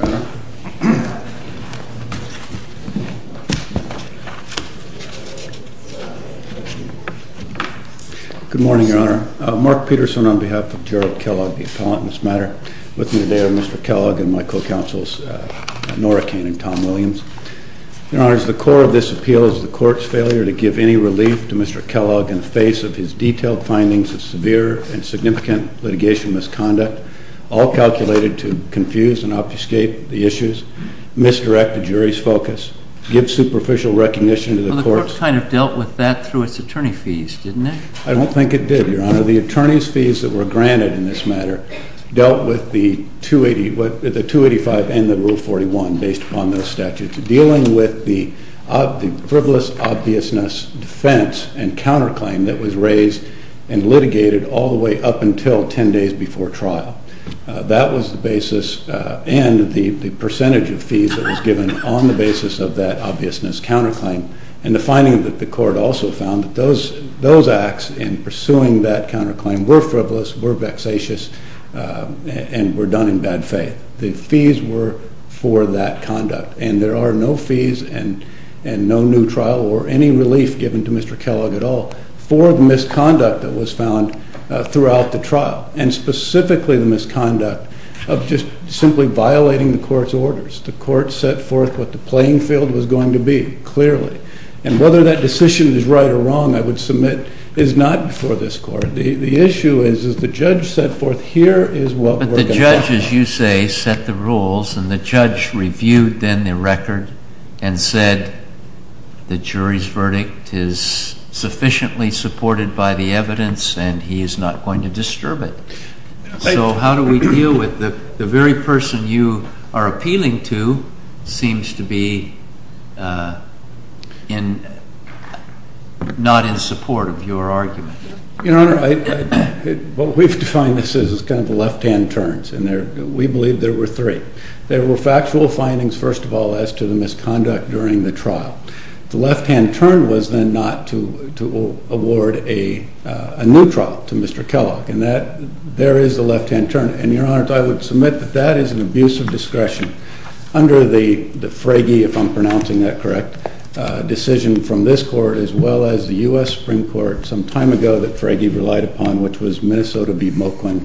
Good morning, Your Honor. Mark Peterson on behalf of Gerald Kellogg, the appellant in this matter, with me today are Mr. Kellogg and my co-counsels Nora Kane and Tom Williams. Your Honor, the core of this appeal is the Court's failure to give any relief to Mr. Kellogg in the face of his detailed findings of severe and significant litigation misconduct, all calculated to confuse and obfuscate the issues, misdirect the jury's focus, give superficial recognition to the Court's... Well, the Court kind of dealt with that through its attorney fees, didn't it? I don't think it did, Your Honor. The attorney's fees that were granted in this matter dealt with the 285 and the Rule 41 based upon those statutes, dealing with the frivolous obviousness defense and counterclaim that was raised and litigated all the way up until 10 days before trial. That was the basis and the percentage of fees that was given on the basis of that obviousness counterclaim and the finding that the Court also found that those acts in pursuing that counterclaim were frivolous, were vexatious, and were done in bad faith. The fees were for that conduct and there are no fees and no new trial or any relief given to Mr. Kellogg at all for the misconduct that was found throughout the trial, and specifically the misconduct of just simply violating the Court's orders. The Court set forth what the playing field was going to be, clearly, and whether that decision is right or wrong, I would submit, is not before this Court. The issue is, as the judge set forth, here is what we're going to find. But the judge, as you say, set the rules and the judge reviewed then the record and said the jury's verdict is sufficiently supported by the evidence and he is not going to disturb it. So how do we deal with the very person you are appealing to seems to be not in support of your argument? Your Honor, what we've defined this as is kind of the left-hand turns. We believe there were three. There were factual findings, first of all, as to the misconduct during the trial. The left-hand turn was then not to award a new trial to Mr. Kellogg, and there is a left-hand turn. And, Your Honor, I would submit that that is an abuse of discretion under the Fragi, if I'm pronouncing that correct, decision from this Court as well as the U.S. Supreme Court some time ago that Fragi relied upon, which was Minnesota v. Moaklin,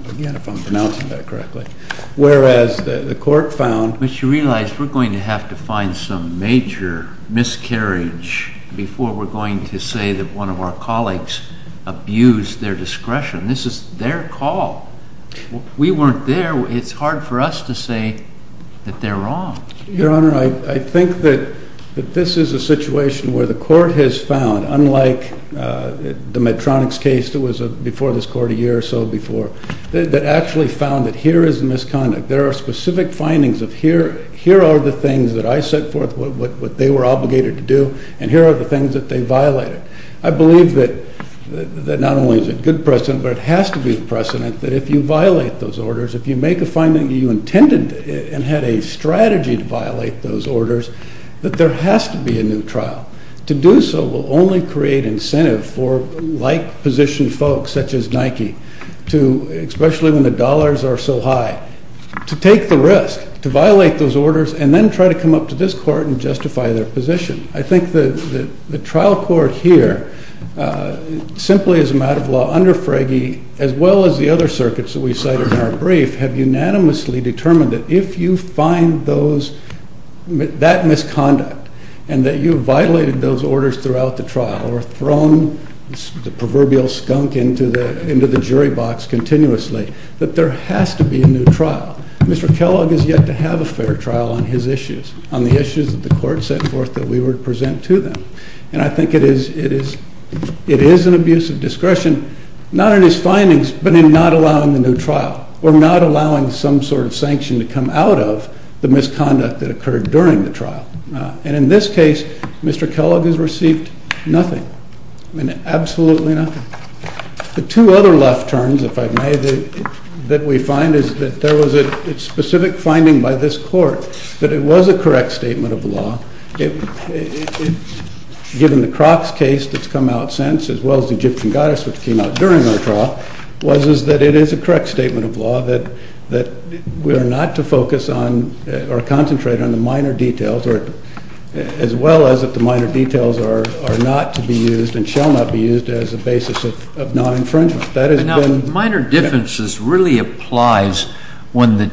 whereas the Court found... But you realize we're going to have to find some major miscarriage before we're going to say that one of our colleagues abused their discretion. This is their call. We weren't there. It's hard for us to say that they're wrong. Your Honor, I think that this is a situation where the Court has found, unlike the Medtronic's case that was before this Court a year or so before, that actually found that here is some misconduct. There are specific findings of here are the things that I set forth, what they were obligated to do, and here are the things that they violated. I believe that not only is it good precedent, but it has to be precedent that if you violate those orders, if you make a finding that you intended and had a strategy to violate those orders, that there has to be a new trial. To do so will only create incentive for like-positioned folks, such as Nike, to, especially when the dollars are so high, to take the risk to violate those orders and then try to come up to this Court and justify their position. I think the trial court here, simply as a matter of law, under Frege, as well as the other circuits that we cited in our brief, have unanimously determined that if you find those, that misconduct, and that you violated those orders throughout the trial or thrown the proverbial skunk into the jury box continuously, that there has to be a new trial. Mr. Kellogg has yet to have a fair trial on his issues, on the issues that the Court set forth that we would present to them. And I think it is an abuse of discretion, not in his findings, but in not allowing the new trial, or not allowing some sort of sanction to come out of the misconduct that occurred during the trial. And in this case, Mr. Kellogg has received nothing. I mean, absolutely nothing. The two other left turns, if I may, that we find is that there was a specific finding by this Court that it was a correct statement of law, given the Crocs case that's come out since, as well as the Egyptian goddess which came out during our trial, was that it is a correct statement of law that we are not to focus on, or concentrate on, the minor details, as well as if the minor details are not to be used and shall not be used as a basis of non-infringement. That has been— Now, minor differences really applies when the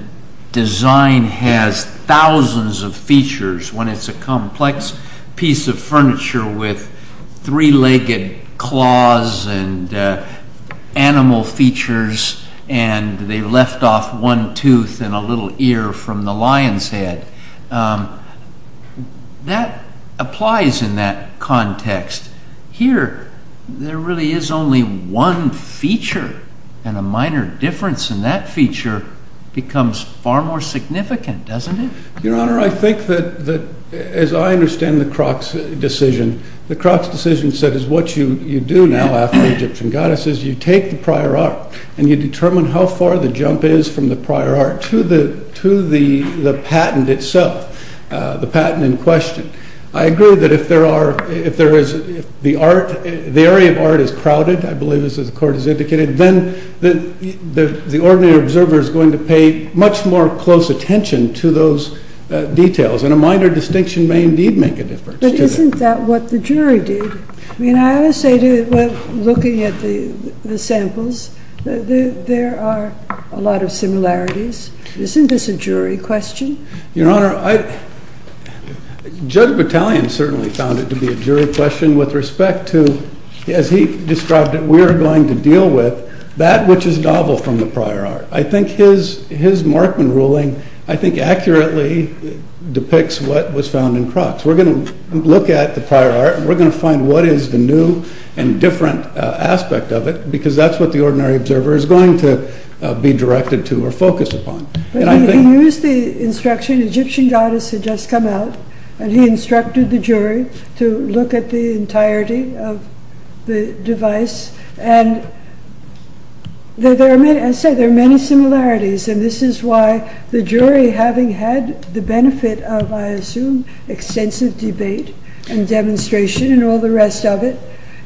design has thousands of features, when it's a complex piece of furniture with three-legged claws and animal features, and they left off one tooth and a little ear from the lion's head. That applies in that context. Here, there really is only one feature, and a minor difference in that feature becomes far more significant, doesn't it? Your Honor, I think that, as I understand the Crocs decision, the Crocs decision said is what you do now after Egyptian goddesses, you take the prior art, and you determine how far the jump is from the prior art to the patent itself, the patent in question. I agree that if the area of art is crowded, I believe as the Court has indicated, then the ordinary observer is going to pay much more close attention to those details, and a minor distinction may indeed make a difference. But isn't that what the jury did? I would say, looking at the samples, there are a lot of similarities. Isn't this a jury question? Your Honor, Judge Battalion certainly found it to be a jury question with respect to, as he described it, we are going to deal with that which is novel from the prior art. I think his Markman ruling, I think, accurately depicts what was found in Crocs. We're going to look at the prior art. We're going to find what is the new and different aspect of it, because that's what the ordinary observer is going to be directed to or focused upon. He used the instruction, Egyptian goddess had just come out, and he instructed the jury to look at the entirety of the device, and there are many similarities, and this is why the jury, having had the benefit of, I assume, extensive debate and demonstration and all the rest of it,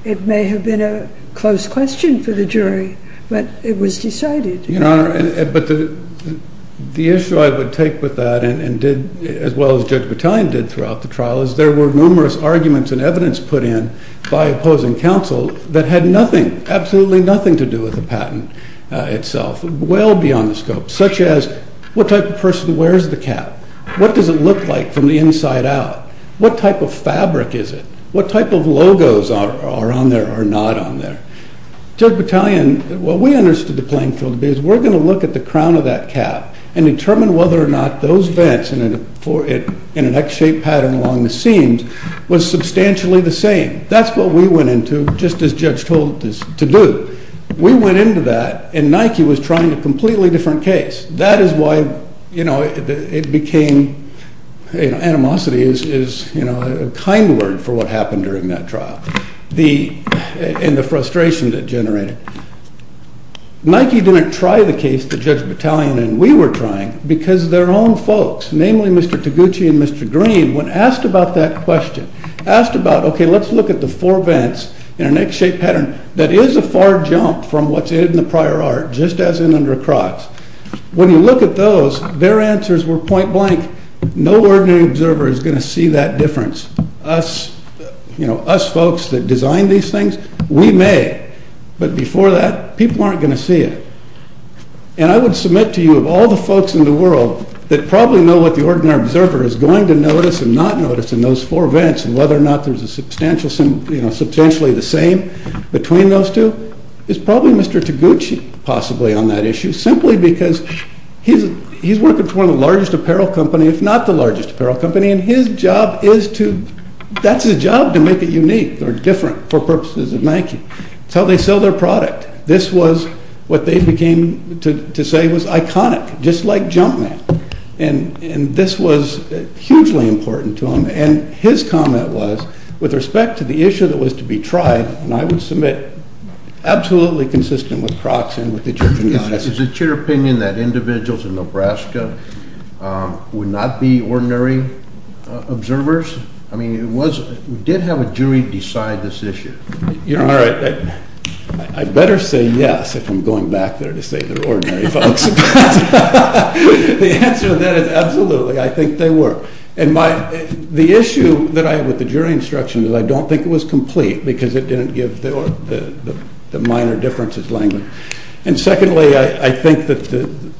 it may have been a close question for the jury, but it was decided. Your Honor, but the issue I would take with that, as well as Judge Battalion did throughout the trial, is there were numerous arguments and evidence put in by opposing counsel that had nothing, absolutely nothing, to do with the patent itself, well beyond the scope, such as what type of person wears the cap, what does it look like from the inside out, what type of fabric is it, what type of logos are on there or not on there. Judge Battalion, what we understood the playing field to be is we're going to look at the crown of that cap and determine whether or not those vents in an X-shaped pattern along the seams was substantially the same. That's what we went into, just as Judge told us to do. We went into that, and Nike was trying a completely different case. That is why, you know, it became, you know, animosity is, you know, a kind word for what happened during that trial, and the frustration that generated. Nike didn't try the case that Judge Battalion and we were trying because their own folks, namely Mr. Taguchi and Mr. Green, when asked about that question, asked about, okay, let's look at the four vents in an X-shaped pattern. When you look at those, their answers were point-blank. No ordinary observer is going to see that difference. Us, you know, us folks that design these things, we may, but before that, people aren't going to see it, and I would submit to you of all the folks in the world that probably know what the ordinary observer is going to notice and not notice in those four vents and whether or not there's a substantial, you know, substantially the same between those two, is probably Mr. Taguchi possibly on that issue, simply because he's working for one of the largest apparel company, if not the largest apparel company, and his job is to, that's his job, to make it unique or different for purposes of Nike. It's how they sell their product. This was what they became to say was iconic, just like Jumpman, and this was hugely important to him, and his comment was, with respect to the issue that was to be tried, and I would submit absolutely consistent with Crocks and with the judge's analysis. Is it your opinion that individuals in Nebraska would not be ordinary observers? I mean, it was, we did have a jury decide this issue. You know, all right, I better say yes if I'm going back there to say they're ordinary folks. The answer to that is absolutely, I think they were, and my, the issue that I had with the jury instruction is I don't think it was complete, because it didn't give the minor differences language, and secondly, I think that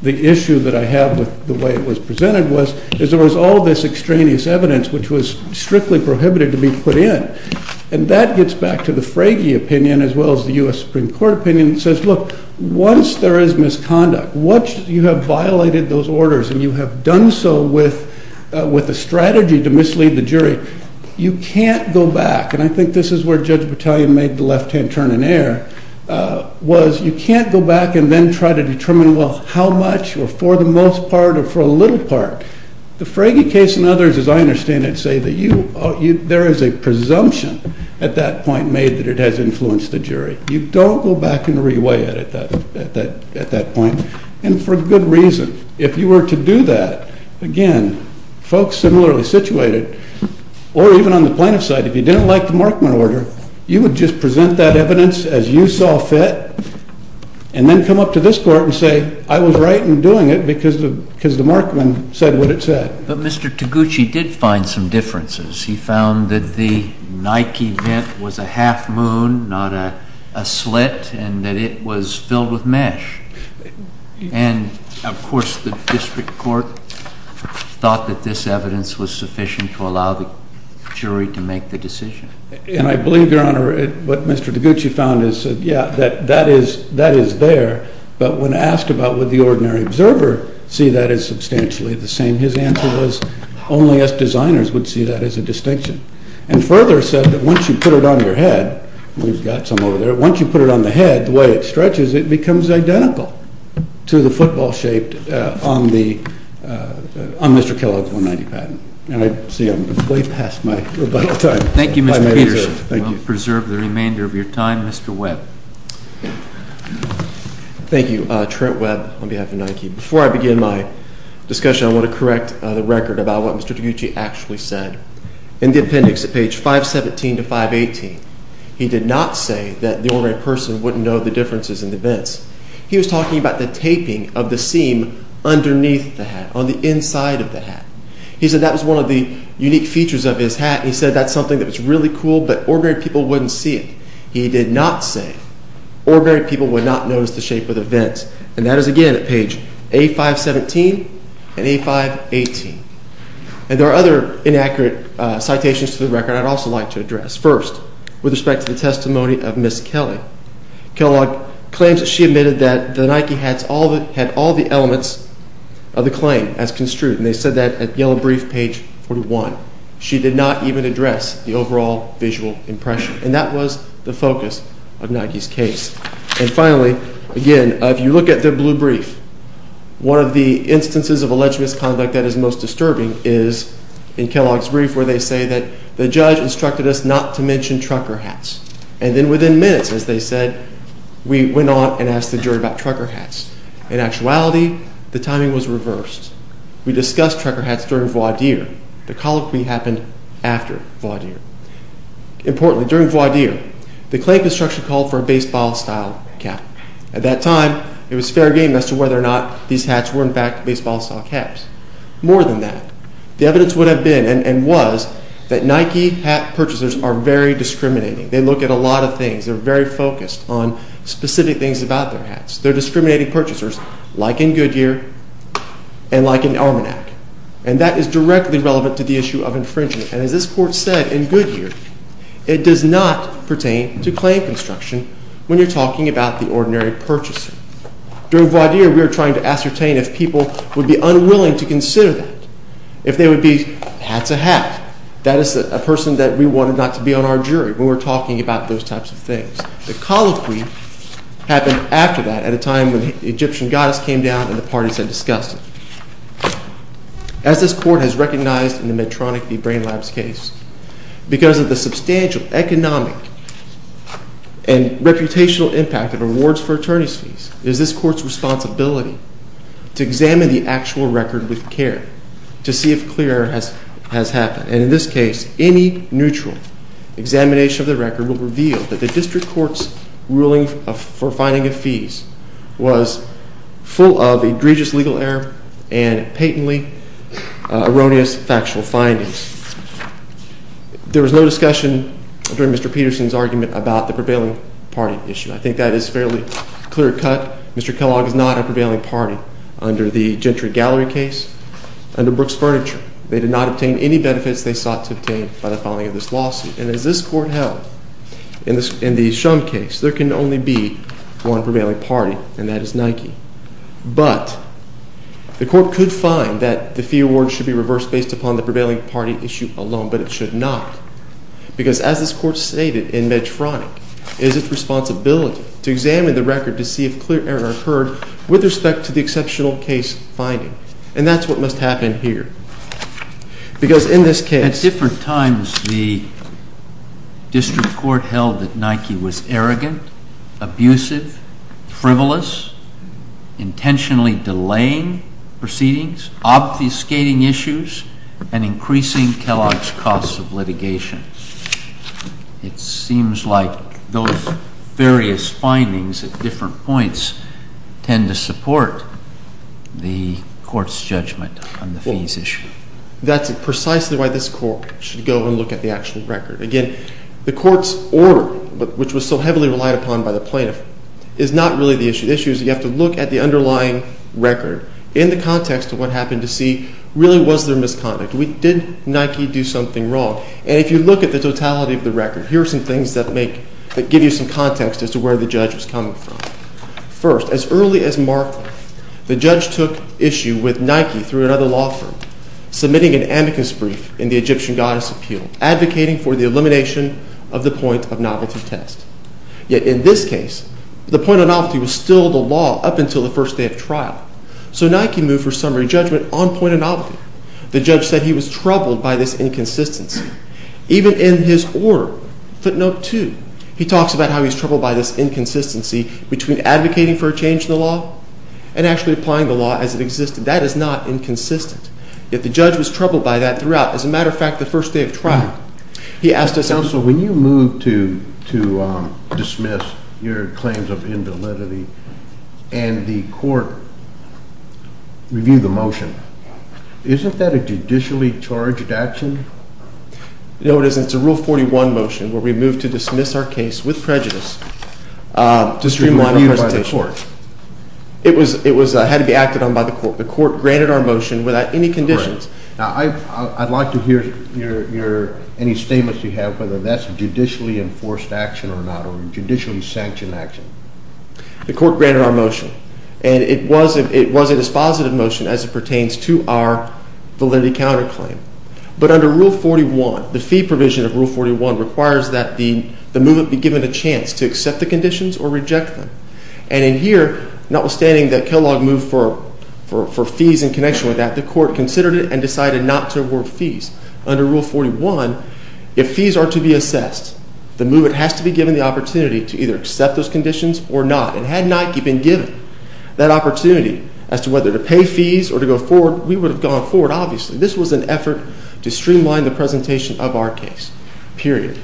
the issue that I have with the way it was presented was, is there was all this extraneous evidence, which was strictly prohibited to be put in, and that gets back to the Fragy opinion, as well as the U.S. Supreme Court opinion, says look, once there is misconduct, once you have violated those orders, and you have done so with a strategy to you can't go back, and I think this is where Judge Battaglia made the left-hand turn in air, was you can't go back and then try to determine, well, how much, or for the most part, or for a little part. The Fragy case and others, as I understand it, say that you, there is a presumption at that point made that it has influenced the jury. You don't go back and re-weigh it at that point, and for good reason. If you were to do that, again, folks similarly situated, or even on the plaintiff's side, if you didn't like the Markman order, you would just present that evidence as you saw fit, and then come up to this court and say, I was right in doing it, because the Markman said what it said. But Mr. Taguchi did find some differences. He found that the Nike vent was a half moon, not a slit, and that it was filled with mesh. And, of course, the district court thought that this evidence was sufficient to allow the jury to make the decision. And I believe, Your Honor, what Mr. Taguchi found is, yeah, that is there, but when asked about would the ordinary observer see that as substantially the same, his answer was, only us designers would see that as a distinction. And further said that once you put it on your head, we've got some over there, once you put it on the head, the way it stretches, it becomes identical to the football shape on Mr. Kellogg's 190 patent. And I see I'm way past my rebuttal time. Thank you, Mr. Peters. We'll preserve the remainder of your time. Mr. Webb. Thank you. Trent Webb on behalf of Nike. Before I begin my discussion, I want to correct the record about what Mr. Kellogg said about ordinary people not knowing the differences in the vents. He was talking about the taping of the seam underneath the hat, on the inside of the hat. He said that was one of the unique features of his hat. He said that's something that was really cool, but ordinary people wouldn't see it. He did not say ordinary people would not notice the shape of the vents. And that is, again, at page A-5-17 and A-5-18. And there are other inaccurate citations to the record I'd also like to address. First, with respect to the Kellogg claims, she admitted that the Nike hats had all the elements of the claim as construed. And they said that at yellow brief, page 41. She did not even address the overall visual impression. And that was the focus of Nike's case. And finally, again, if you look at the blue brief, one of the instances of alleged misconduct that is most disturbing is in Kellogg's brief where they say that the judge instructed us not to mention trucker hats. And then within minutes, as they said, we went on and asked the jury about trucker hats. In actuality, the timing was reversed. We discussed trucker hats during voir dire. The colloquy happened after voir dire. Importantly, during voir dire, the claim construction called for a baseball style cap. At that time, it was fair game as to whether or not these hats were, in fact, baseball style caps. More than that, the evidence would have been and was that Nike hat purchasers are very discriminating. They look at a very focused on specific things about their hats. They're discriminating purchasers like in Goodyear and like in Armanac. And that is directly relevant to the issue of infringement. And as this court said in Goodyear, it does not pertain to claim construction when you're talking about the ordinary purchaser. During voir dire, we were trying to ascertain if people would be unwilling to consider that. If they would be hat's a hat. That is a person that we wanted not to be on our jury when we're talking about those types of things. The colloquy happened after that at a time when the Egyptian goddess came down and the parties had discussed it. As this court has recognized in the Medtronic v. Brain Labs case, because of the substantial economic and reputational impact of awards for attorney's fees, it is this court's responsibility to examine the actual record will reveal that the district court's ruling for finding of fees was full of egregious legal error and patently erroneous factual findings. There was no discussion during Mr. Peterson's argument about the prevailing party issue. I think that is fairly clear cut. Mr. Kellogg is not a prevailing party under the Gentry Gallery case. Under Brooks Furniture, they did not obtain any benefits they sought to obtain by the filing of this lawsuit. And as this court held in the Shum case, there can only be one prevailing party, and that is Nike. But the court could find that the fee award should be reversed based upon the prevailing party issue alone, but it should not. Because as this court stated in Medtronic, it is its responsibility to examine the record to see if clear error occurred with respect to the exceptional case finding. And that is what must happen here. Because in this case... At different times, the district court held that Nike was arrogant, abusive, frivolous, intentionally delaying proceedings, obfuscating issues, and increasing Kellogg's costs of litigation. It seems like those various findings at different points tend to support the court's judgment on the fees issue. That's precisely why this court should go and look at the actual record. Again, the court's order, which was so heavily relied upon by the plaintiff, is not really the issue. The issue is you have to look at the underlying record in the case. What really was their misconduct? Did Nike do something wrong? And if you look at the totality of the record, here are some things that give you some context as to where the judge was coming from. First, as early as March, the judge took issue with Nike through another law firm, submitting an amicus brief in the Egyptian Goddess Appeal, advocating for the elimination of the point of novelty test. Yet in this case, the point of novelty was still the law up until the first day of trial. So Nike moved for summary judgment on point of novelty. The judge said he was troubled by this inconsistency. Even in his order, footnote 2, he talks about how he's troubled by this inconsistency between advocating for a change in the law and actually applying the law as it existed. That is not inconsistent. Yet the judge was troubled by that throughout, as a matter of fact, the first day of trial. He asked us... Counsel, when you moved to dismiss your claims of invalidity and the court reviewed the motion, isn't that a judicially charged action? No, it isn't. It's a Rule 41 motion where we moved to dismiss our case with prejudice to streamline our presentation. It had to be acted on by the court. The court granted our motion without any conditions. Now, I'd like to hear any statements you have, whether that's a judicially enforced action or not, or a judicially sanctioned action. The court granted our motion, and it was a dispositive motion as it pertains to our validity counterclaim. But under Rule 41, the fee provision of Rule 41 requires that the movement be given a chance to accept the conditions or reject them. And in here, notwithstanding that Kellogg moved for fees in connection with that, the court considered it and decided not to award fees. Under Rule 41, if fees are to be assessed, the movement has to be given the opportunity to either accept those conditions or not. And had Nike been given that opportunity as to whether to pay fees or to go forward, we would have gone forward, obviously. This was an effort to streamline the presentation of our case, period.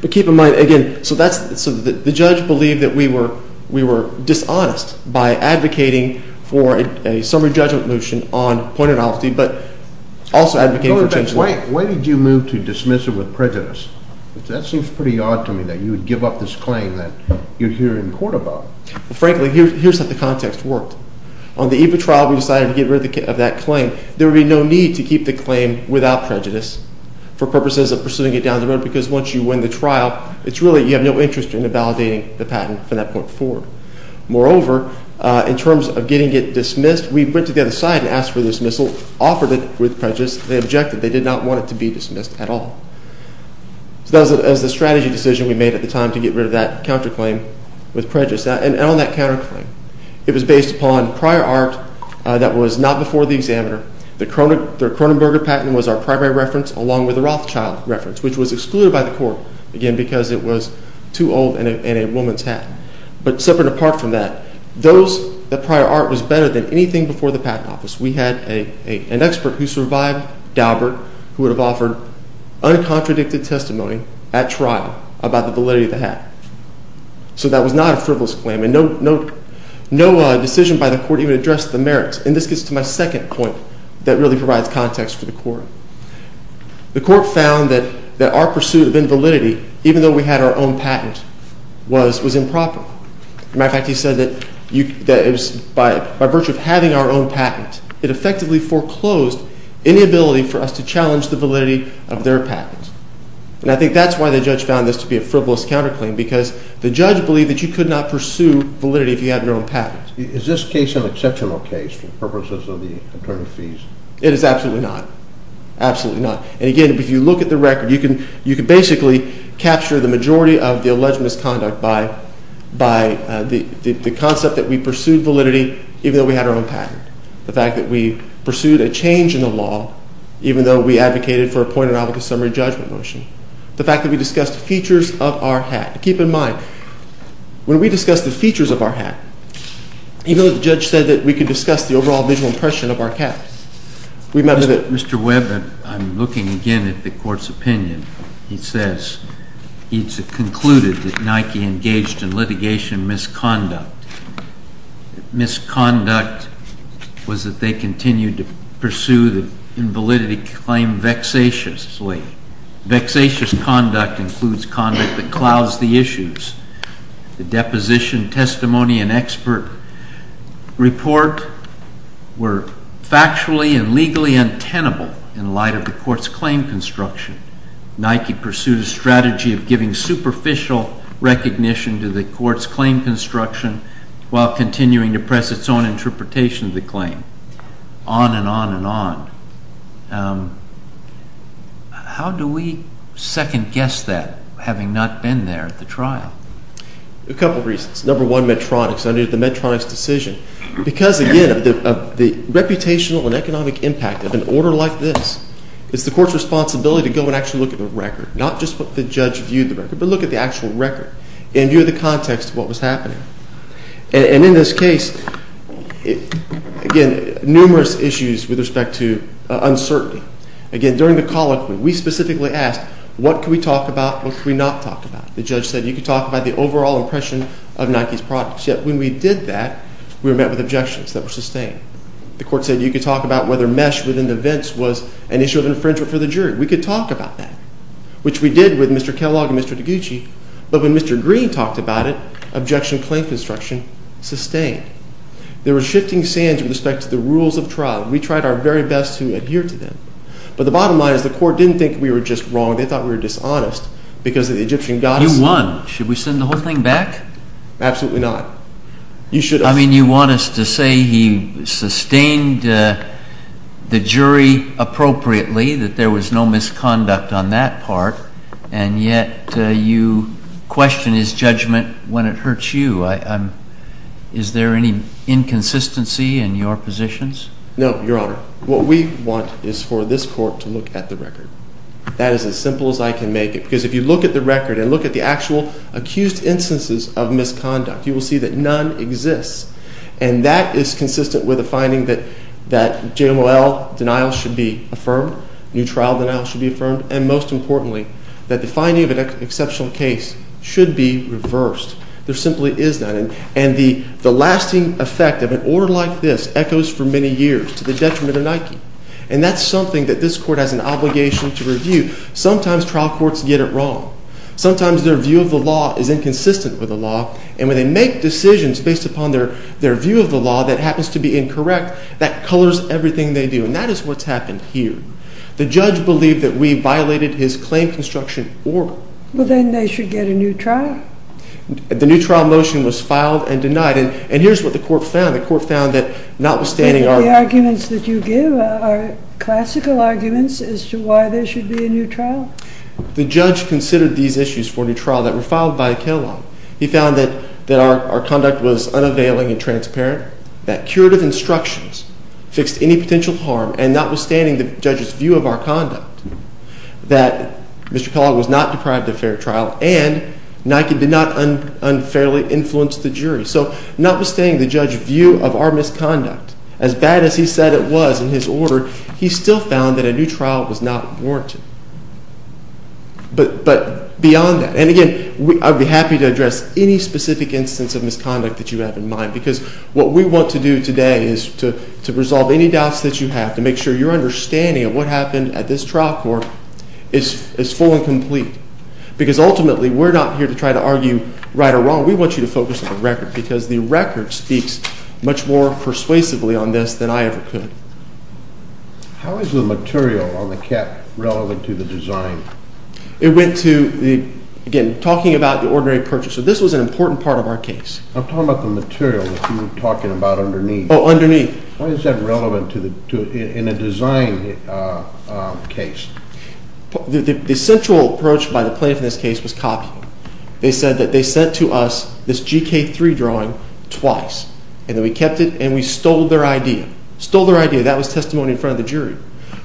But keep in mind, again, so that's – so the judge believed that we were – we were dishonest by advocating for a summary judgment motion on point of naughty, but also advocating for change in the law. Wait a minute. Why did you move to dismiss it with prejudice? That seems pretty odd to me that you would give up this claim that you're here in court about. Well, frankly, here's how the context worked. On the eve of trial, we decided to get rid of that claim. There would be no need to keep the claim without prejudice for purposes of pursuing it down the road, because once you win the trial, it's really – you have no interest in invalidating the patent from that point forward. Moreover, in terms of getting it dismissed, we went to the other side and asked for the dismissal, offered it with prejudice. They objected. They did not want it to be dismissed at all. So that was the strategy decision we made at the time to get rid of that counterclaim with prejudice. And on that counterclaim, it was based upon prior art that was not before the examiner. The Cronenberger patent was our primary reference, along with the Rothschild reference, which was excluded by the court, again, because it was too old and a woman's hat. But separate apart from that, those – the prior art was better than anything before the patent office. We had an expert who survived, Daubert, who would have offered uncontradicted testimony at trial about the validity of the hat. So that was not a frivolous claim, and no decision by the court even addressed the merits. And this gets to my second point that really provides context for the court. The court found that our pursuit of invalidity, even though we had our own patent, was improper. As a matter of fact, he said that by virtue of having our own patent, it effectively foreclosed any ability for us to challenge the validity of their patent. And I think that's why the judge found this to be a frivolous counterclaim, because the judge believed that you could not pursue validity if you had your own patent. Is this case an exceptional case for purposes of the attorney fees? It is absolutely not. Absolutely not. And again, if you look at the record, you can basically capture the majority of the alleged misconduct by the concept that we pursued validity even though we had our own patent. The fact that we pursued a change in the law even though we advocated for a point-of-novel-to-summary judgment motion. The fact that we discussed features of our hat. Keep in mind, when we discussed the features of our hat, even though the judge said that we could discuss the overall visual impression of our cap, we met with it. Mr. Webb, I'm looking again at the court's opinion. It says, it's concluded that Nike engaged in litigation misconduct. Misconduct was that they continued to pursue the invalidity claim vexatiously. Vexatious conduct includes conduct that clouds the issues. The deposition, testimony, and expert report were factually and legally untenable in light of the court's claim construction. Nike pursued a strategy of giving superficial recognition to the court's claim construction while continuing to press its own interpretation of the claim. On and on and on. How do we second-guess that, having not been there at the trial? A couple of reasons. Number one, Medtronic's decision. Because, again, of the reputational and economic impact of an order like this, it's the court's responsibility to go and actually look at the record, not just what the judge viewed the record, but look at the actual record and view the context of what was happening. And in this case, again, numerous issues with respect to uncertainty. Again, during the colloquy, we specifically asked, what could we talk about, what could we not talk about? The judge said, you could talk about the overall impression of Nike's products. Yet when we did that, we were met with objections that were sustained. The court said, you could talk about whether mesh within the vents was an issue of infringement for the jury. We could talk about that, which we did with Mr. Kellogg and Mr. DiGucci. But when Mr. Green talked about it, objection claim construction sustained. There were shifting sands with respect to the rules of trial. We tried our very best to adhere to them. But the bottom line is, the court didn't think we were just wrong. They thought we were dishonest because of the Egyptian gods. You won. Should we send the whole thing back? Absolutely not. You should have. I mean, you want us to say he sustained the jury appropriately, that there was no misconduct on that part. And yet you question his judgment when it hurts you. Is there any inconsistency in your positions? No, Your Honor. What we want is for this court to look at the record. That is as simple as I can make it. Because if you look at the record and look at the actual accused instances of misconduct, you will see that none exists. And that is consistent with the finding that JMOL denial should be affirmed, new trial denial should be affirmed, and most importantly, that the finding of an exceptional case should be reversed. There simply is none. And the lasting effect of an order like this echoes for many years to the detriment of Nike. And that's something that this court has an obligation to review. Sometimes trial courts get it wrong. Sometimes their view of the law is inconsistent with the law. And when they make decisions based upon their view of the law that happens to be incorrect, that colors everything they do. And that is what's happened here. The judge believed that we violated his claim construction order. Well, then they should get a new trial. The new trial motion was filed and denied. And here's what the court found. The court found that notwithstanding our... The arguments that you give are classical arguments as to why there should be a new trial. The judge considered these issues for a new trial that were filed by Kellogg. He found that our conduct was unavailing and transparent, that curative instructions fixed any potential harm, and notwithstanding the judge's view of our conduct, that Mr. Kellogg was not deprived of fair trial and Nike did not unfairly influence the jury. So notwithstanding the judge's view of our misconduct, as bad as he said it was in his order, he still found that a new trial was not warranted. But beyond that, and again, I'd be happy to address any specific instance of misconduct that you have in mind because what we want to do today is to resolve any doubts that you have, to make sure your understanding of what happened at this trial court is full and complete. Because ultimately, we're not here to try to argue right or wrong. We want you to focus on the record because the record speaks much more persuasively on this than I ever could. How is the material on the cap relevant to the design? It went to, again, talking about the ordinary purchaser. This was an important part of our case. I'm talking about the material that you were talking about underneath. Oh, underneath. Why is that relevant in a design case? The central approach by the plaintiff in this case was copying. They said that they sent to us this GK3 drawing twice and that we kept it and we stole their idea. Stole their idea. That was testimony in front of the jury.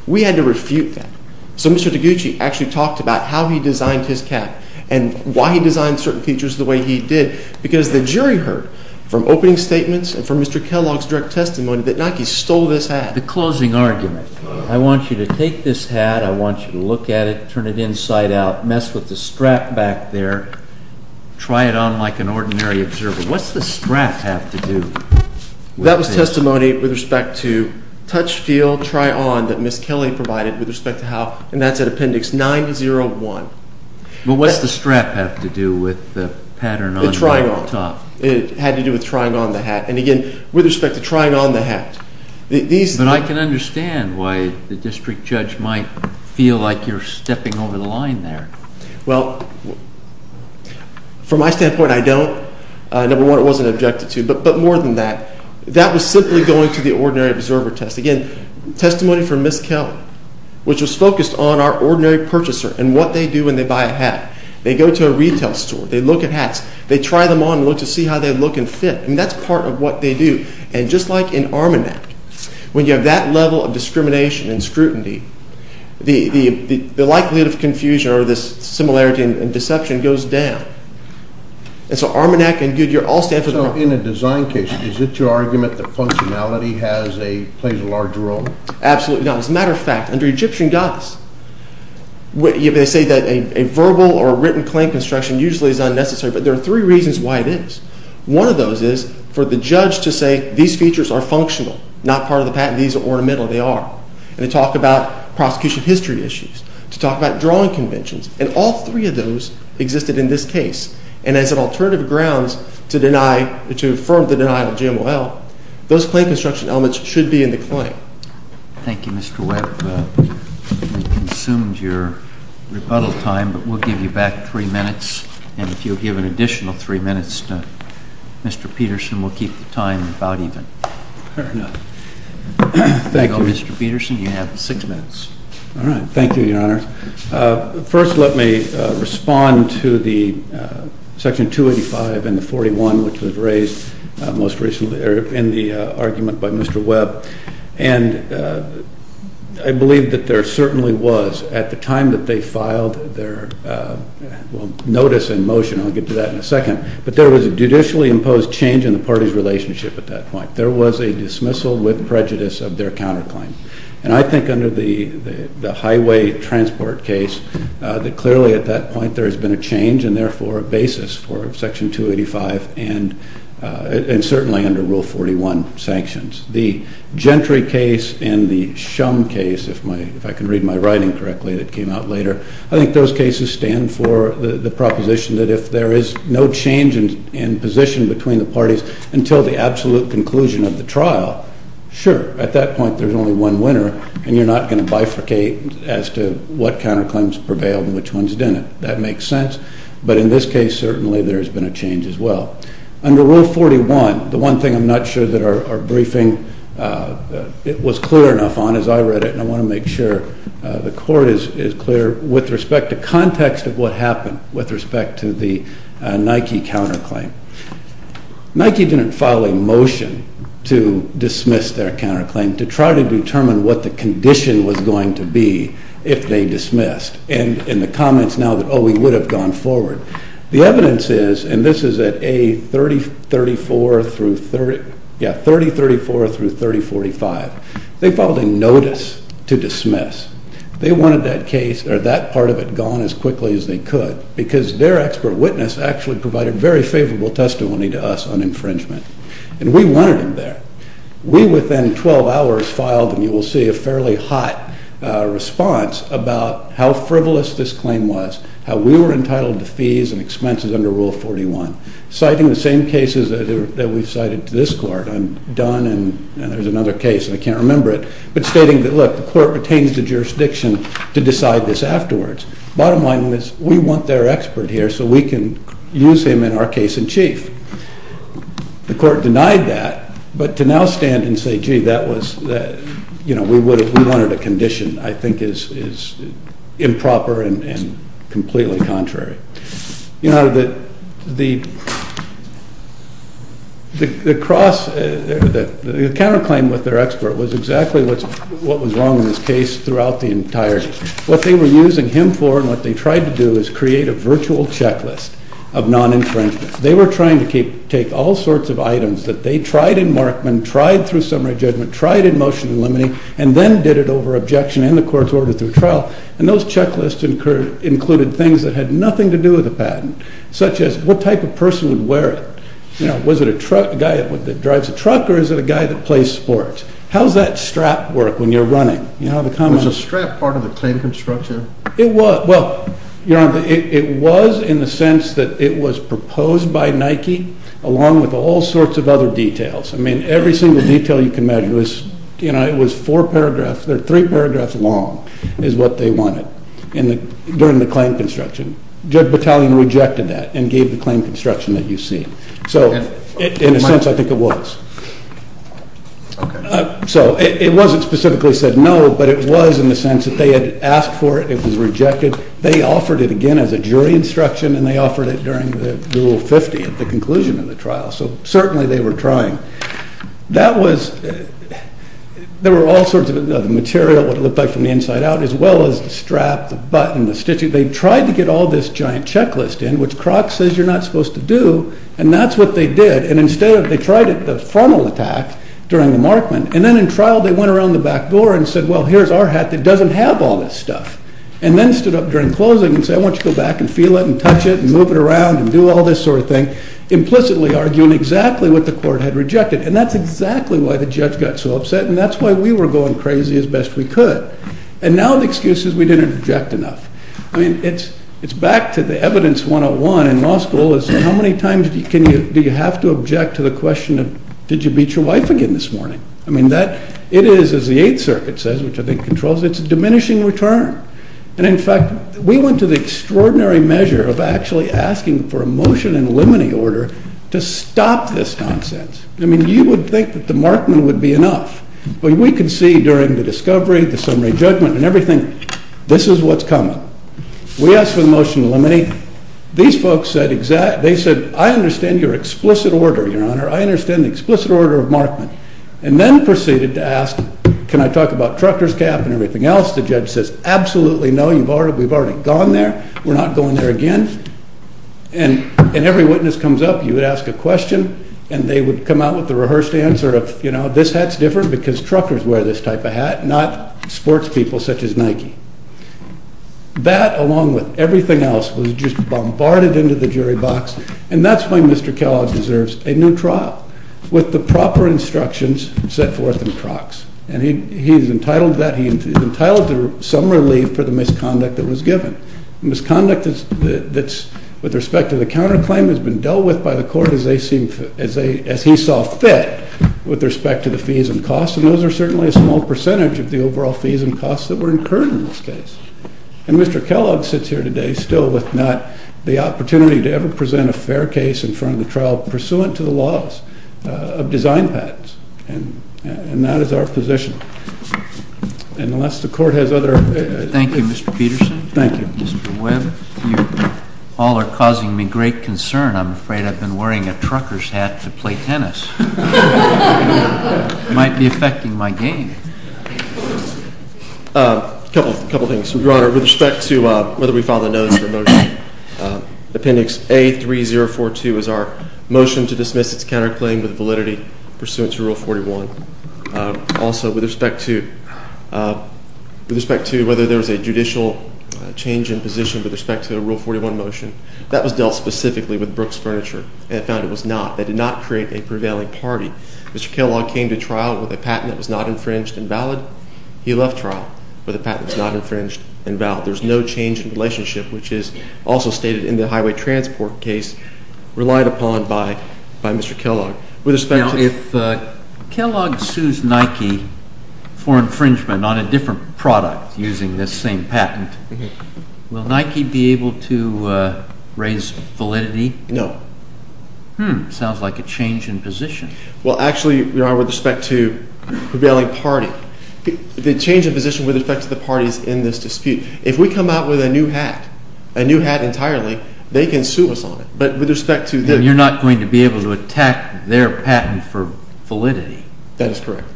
We had to refute that. So Mr. DiGucci actually talked about how he designed his cap and why he designed certain features the way he did because the jury heard from opening statements and from Mr. Kellogg's direct testimony that Nike stole this hat. The closing argument. I want you to take this hat. I want you to look at it. Turn it inside out. Mess with the strap back there. Try it on like an ordinary observer. What's the strap have to do with it? That was testimony with respect to touch, feel, try on that Ms. Kelly provided with respect to how and that's at appendix 901. But what's the strap have to do with the pattern on the top? It had to do with trying on the hat. And again, with respect to trying on the hat. But I can understand why the district judge might feel like you're stepping over the line there. Well, from my standpoint, I don't. Number one, it wasn't objected to. But more than that, that was simply going to the ordinary observer test. Again, testimony from Ms. Kelly, which was focused on our ordinary purchaser and what they do when they buy a hat. They go to a retail store. They look at hats. They try them on to see how they look and fit. And that's part of what they do. And just like in Armanac, when you have that level of discrimination and scrutiny, the likelihood of confusion or this similarity and deception goes down. And so Armanac and Goodyear all stand for that. So in a design case, is it your argument that functionality plays a larger role? Absolutely not. As a matter of fact, under Egyptian gods, they say that a verbal or written claim construction usually is unnecessary. But there are three reasons why it is. One of those is for the judge to say these features are functional, not part of the patent. These are ornamental. They are. And to talk about prosecution history issues, to talk about drawing conventions. And all three of those existed in this case. And as an alternative grounds to affirm the denial of GMOL, those claim construction elements should be in the claim. Thank you, Mr. Webb. We've consumed your rebuttal time, but we'll give you back three minutes. And if you'll give an additional three minutes to Mr. Peterson, we'll keep the time about even. Fair enough. Thank you. There you go, Mr. Peterson. You have six minutes. All right. Thank you, Your Honor. First, let me respond to the Section 285 and the 41, which was raised most recently in the argument by Mr. Webb. And I believe that there certainly was at the time that they filed their notice and motion. I'll get to that in a second. But there was a judicially imposed change in the party's relationship at that point. There was a dismissal with prejudice of their counterclaim. And I think under the highway transport case that clearly at that point there has been a change and therefore a basis for Section 285 and certainly under Rule 41 sanctions. The Gentry case and the Shum case, if I can read my writing correctly that came out later, I think those cases stand for the proposition that if there is no change in position between the parties until the absolute conclusion of the trial, sure, at that point there's only one winner and you're not going to bifurcate as to what counterclaims prevailed and which ones didn't. That makes sense. But in this case certainly there has been a change as well. Under Rule 41, the one thing I'm not sure that our briefing was clear enough on as I read it, and I want to make sure the Court is clear, with respect to context of what happened with respect to the Nike counterclaim. Nike didn't file a motion to dismiss their counterclaim to try to determine what the condition was going to be if they dismissed and in the comments now that, oh, we would have gone forward. The evidence is, and this is at A3034 through 30, yeah, 3034 through 3045, they filed a notice to dismiss. They wanted that case or that part of it to go on as quickly as they could because their expert witness actually provided very favorable testimony to us on infringement. And we wanted him there. We within 12 hours filed, and you will see, a fairly hot response about how frivolous this claim was, how we were entitled to fees and expenses under Rule 41, citing the same cases that we've cited to this Court. I'm done and there's another case and I can't remember it, but stating that, look, the Court retains the jurisdiction to decide this afterwards. Bottom line was, we want their expert here so we can use him in our case in chief. The Court denied that, but to now stand and say, gee, that was, you know, we wanted a condition, I think is improper and completely contrary. You know, the cross, the counterclaim with their expert was exactly what was wrong in this case throughout the entirety. What they were using him for and what they tried to do is create a virtual checklist of non-infringement. They were trying to take all sorts of items that they tried in Markman, tried through summary judgment, tried in motion in limine, and then did it over objection and the Court's order through trial. And those checklists included things that had nothing to do with the patent, such as what type of person would wear it. You know, was it a guy that drives a truck or is it a guy that plays sports? How's that strap work when you're running? You have a comment? Was the strap part of the claim construction? It was. Well, Your Honor, it was in the sense that it was proposed by Nike along with all sorts of other details. I mean, every single detail you can measure. It was, you know, it was four paragraphs. They're three paragraphs long is what they wanted during the claim construction. Judge Battaglione rejected that and gave the claim construction that you see. So in a sense, I think it was. Okay. So it wasn't specifically said no, but it was in the sense that they had asked for it. It was rejected. They offered it again as a jury instruction and they offered it during the Rule 50 at the conclusion of the trial. So certainly they were trying. That was... There were all sorts of other material, what it looked like from the inside out, as well as the strap, the button, the stitching. They tried to get all this giant checklist in, which Kroc says you're not supposed to do, and that's what they did. And instead of... They did the frontal attack during the Markman and then in trial they went around the back door and said, well, here's our hat that doesn't have all this stuff. And then stood up during closing and said, I want you to go back and feel it and touch it and move it around and do all this sort of thing, implicitly arguing exactly what the court had rejected. And that's exactly why the judge got so upset. And that's why we were going crazy as best we could. And now the excuse is we didn't object enough. I mean, it's back to the evidence 101 in law school is how many times do you have to object to the question of, did you beat your wife again this morning? I mean, that... It is, as the Eighth Circuit says, which I think controls it, it's a diminishing return. And in fact, we went to the extraordinary measure of actually asking for a motion in limine order to stop this nonsense. I mean, you would think that the Markman would be enough. But we could see during the discovery, the summary judgment and everything, this is what's coming. We asked for the motion in limine. These folks said exactly... They said, I understand your explicit order, Your Honor. I understand the explicit order of Markman. And then proceeded to ask, can I talk about Trucker's cap and everything else? The judge says, absolutely no, we've already gone there. We're not going there again. And every witness comes up, you would ask a question and they would come out with the rehearsed answer of, you know, this hat's different because Truckers wear this type of hat, not sports people such as Nike. That, along with everything else, was just bombarded into the jury box and that's why Mr. Kellogg deserves a new trial with the proper instructions set forth in Crocs. And he's entitled to that. He's entitled to some relief for the misconduct that was given. Misconduct that's... with respect to the counterclaim has been dealt with by the court as they seem... as he saw fit with respect to the fees and costs and those are certainly a small percentage of the overall fees and costs that were incurred in this case. And Mr. Kellogg sits here today still with not the opportunity to ever present a fair case in front of the trial pursuant to the laws of design patents and... and that is our position. And unless the court has other... Thank you, Mr. Peterson. Thank you. Mr. Webb, you all are causing me great concern. I'm afraid I've been wearing a Truckers hat to play tennis. It might be affecting my game. A couple... a couple of things, Your Honor. With respect to whether we file the notice of the motion, Appendix A3042 is our motion to dismiss its counterclaim with validity pursuant to Rule 41. Also, with respect to... with respect to whether there's a judicial change in position with respect to the Rule 41 motion, that was dealt specifically with Brooks Furniture and found it was not. They did not create a prevailing party. Mr. Kellogg came to trial with a patent that was not infringed and valid. He left trial with a patent that was not infringed and valid. There's no change in relationship which is also stated in the highway transport case relied upon by Mr. Kellogg. With respect to... Now, if Kellogg sues Nike for infringement on a different product using this same patent, will Nike be able to raise validity? No. Hmm. Sounds like a change in position. Well, actually, Your Honor, with respect to prevailing party, the change in position would affect the parties in this dispute. If we come out with a new hat, a new hat entirely, they can sue us on it. But with respect to... You're not going to be able to attack their patent for validity? That is correct.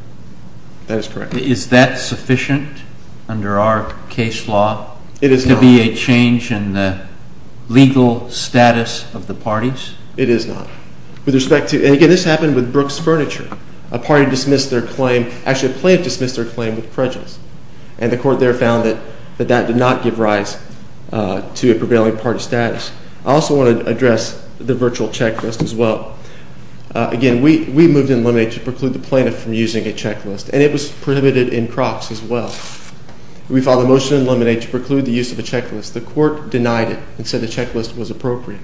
That is correct. Is that sufficient under our case law? It is not. To be a change in the legal status of the parties? It is not. With respect to... And again, this happened with Brooks Furniture. A party dismissed their claim... And the court there found that that did not give rise to a prevailing party status. I also want to address the virtual checklist as well. Again, we moved in Lemonade to preclude the plaintiff from using a checklist. And it was prohibited in Crocs as well. We filed a motion in Lemonade to preclude the use of a checklist. The court denied it and said that the use of a checklist was appropriate.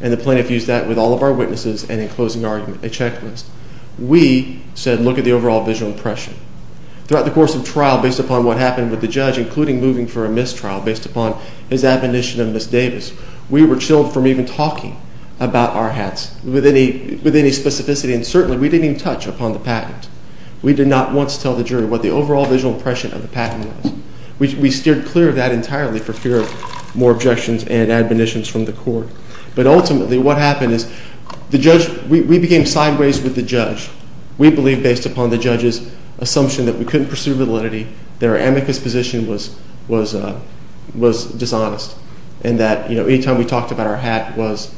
And the plaintiff used that with all of our witnesses and in closing argument a checklist. We said look at the overall visual impression. Throughout the course of trial based upon what happened with the judge including moving for a mistrial based upon his admonition of Ms. Williams and other conditions from the court. But ultimately what happened is we became sideways with the judge. We believe based upon the judge's assumption that we couldn't pursue validity that our amicus position was dishonest and that each time we talked about our hat was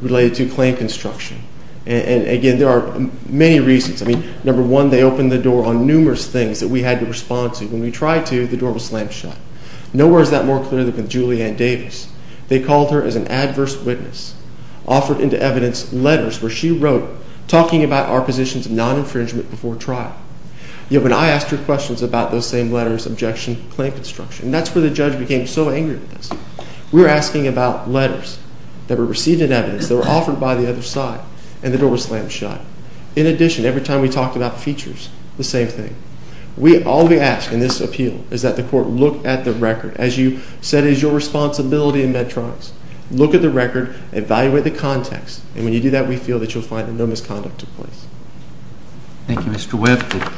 related to claim construction. Ms. Williams and Mr. Davis they called her as an adverse witness offered into evidence letters where she wrote talking about our positions non-infringement before trial. Yet when I asked her questions about those same letters objection claim construction that's where the judge became so angry with us. We were asking about letters that were received in evidence that were offered by the other side and the door was slammed shut. In addition every time we talked about features the same thing. All we ask in this appeal is that the court look at the before the court. Thank you.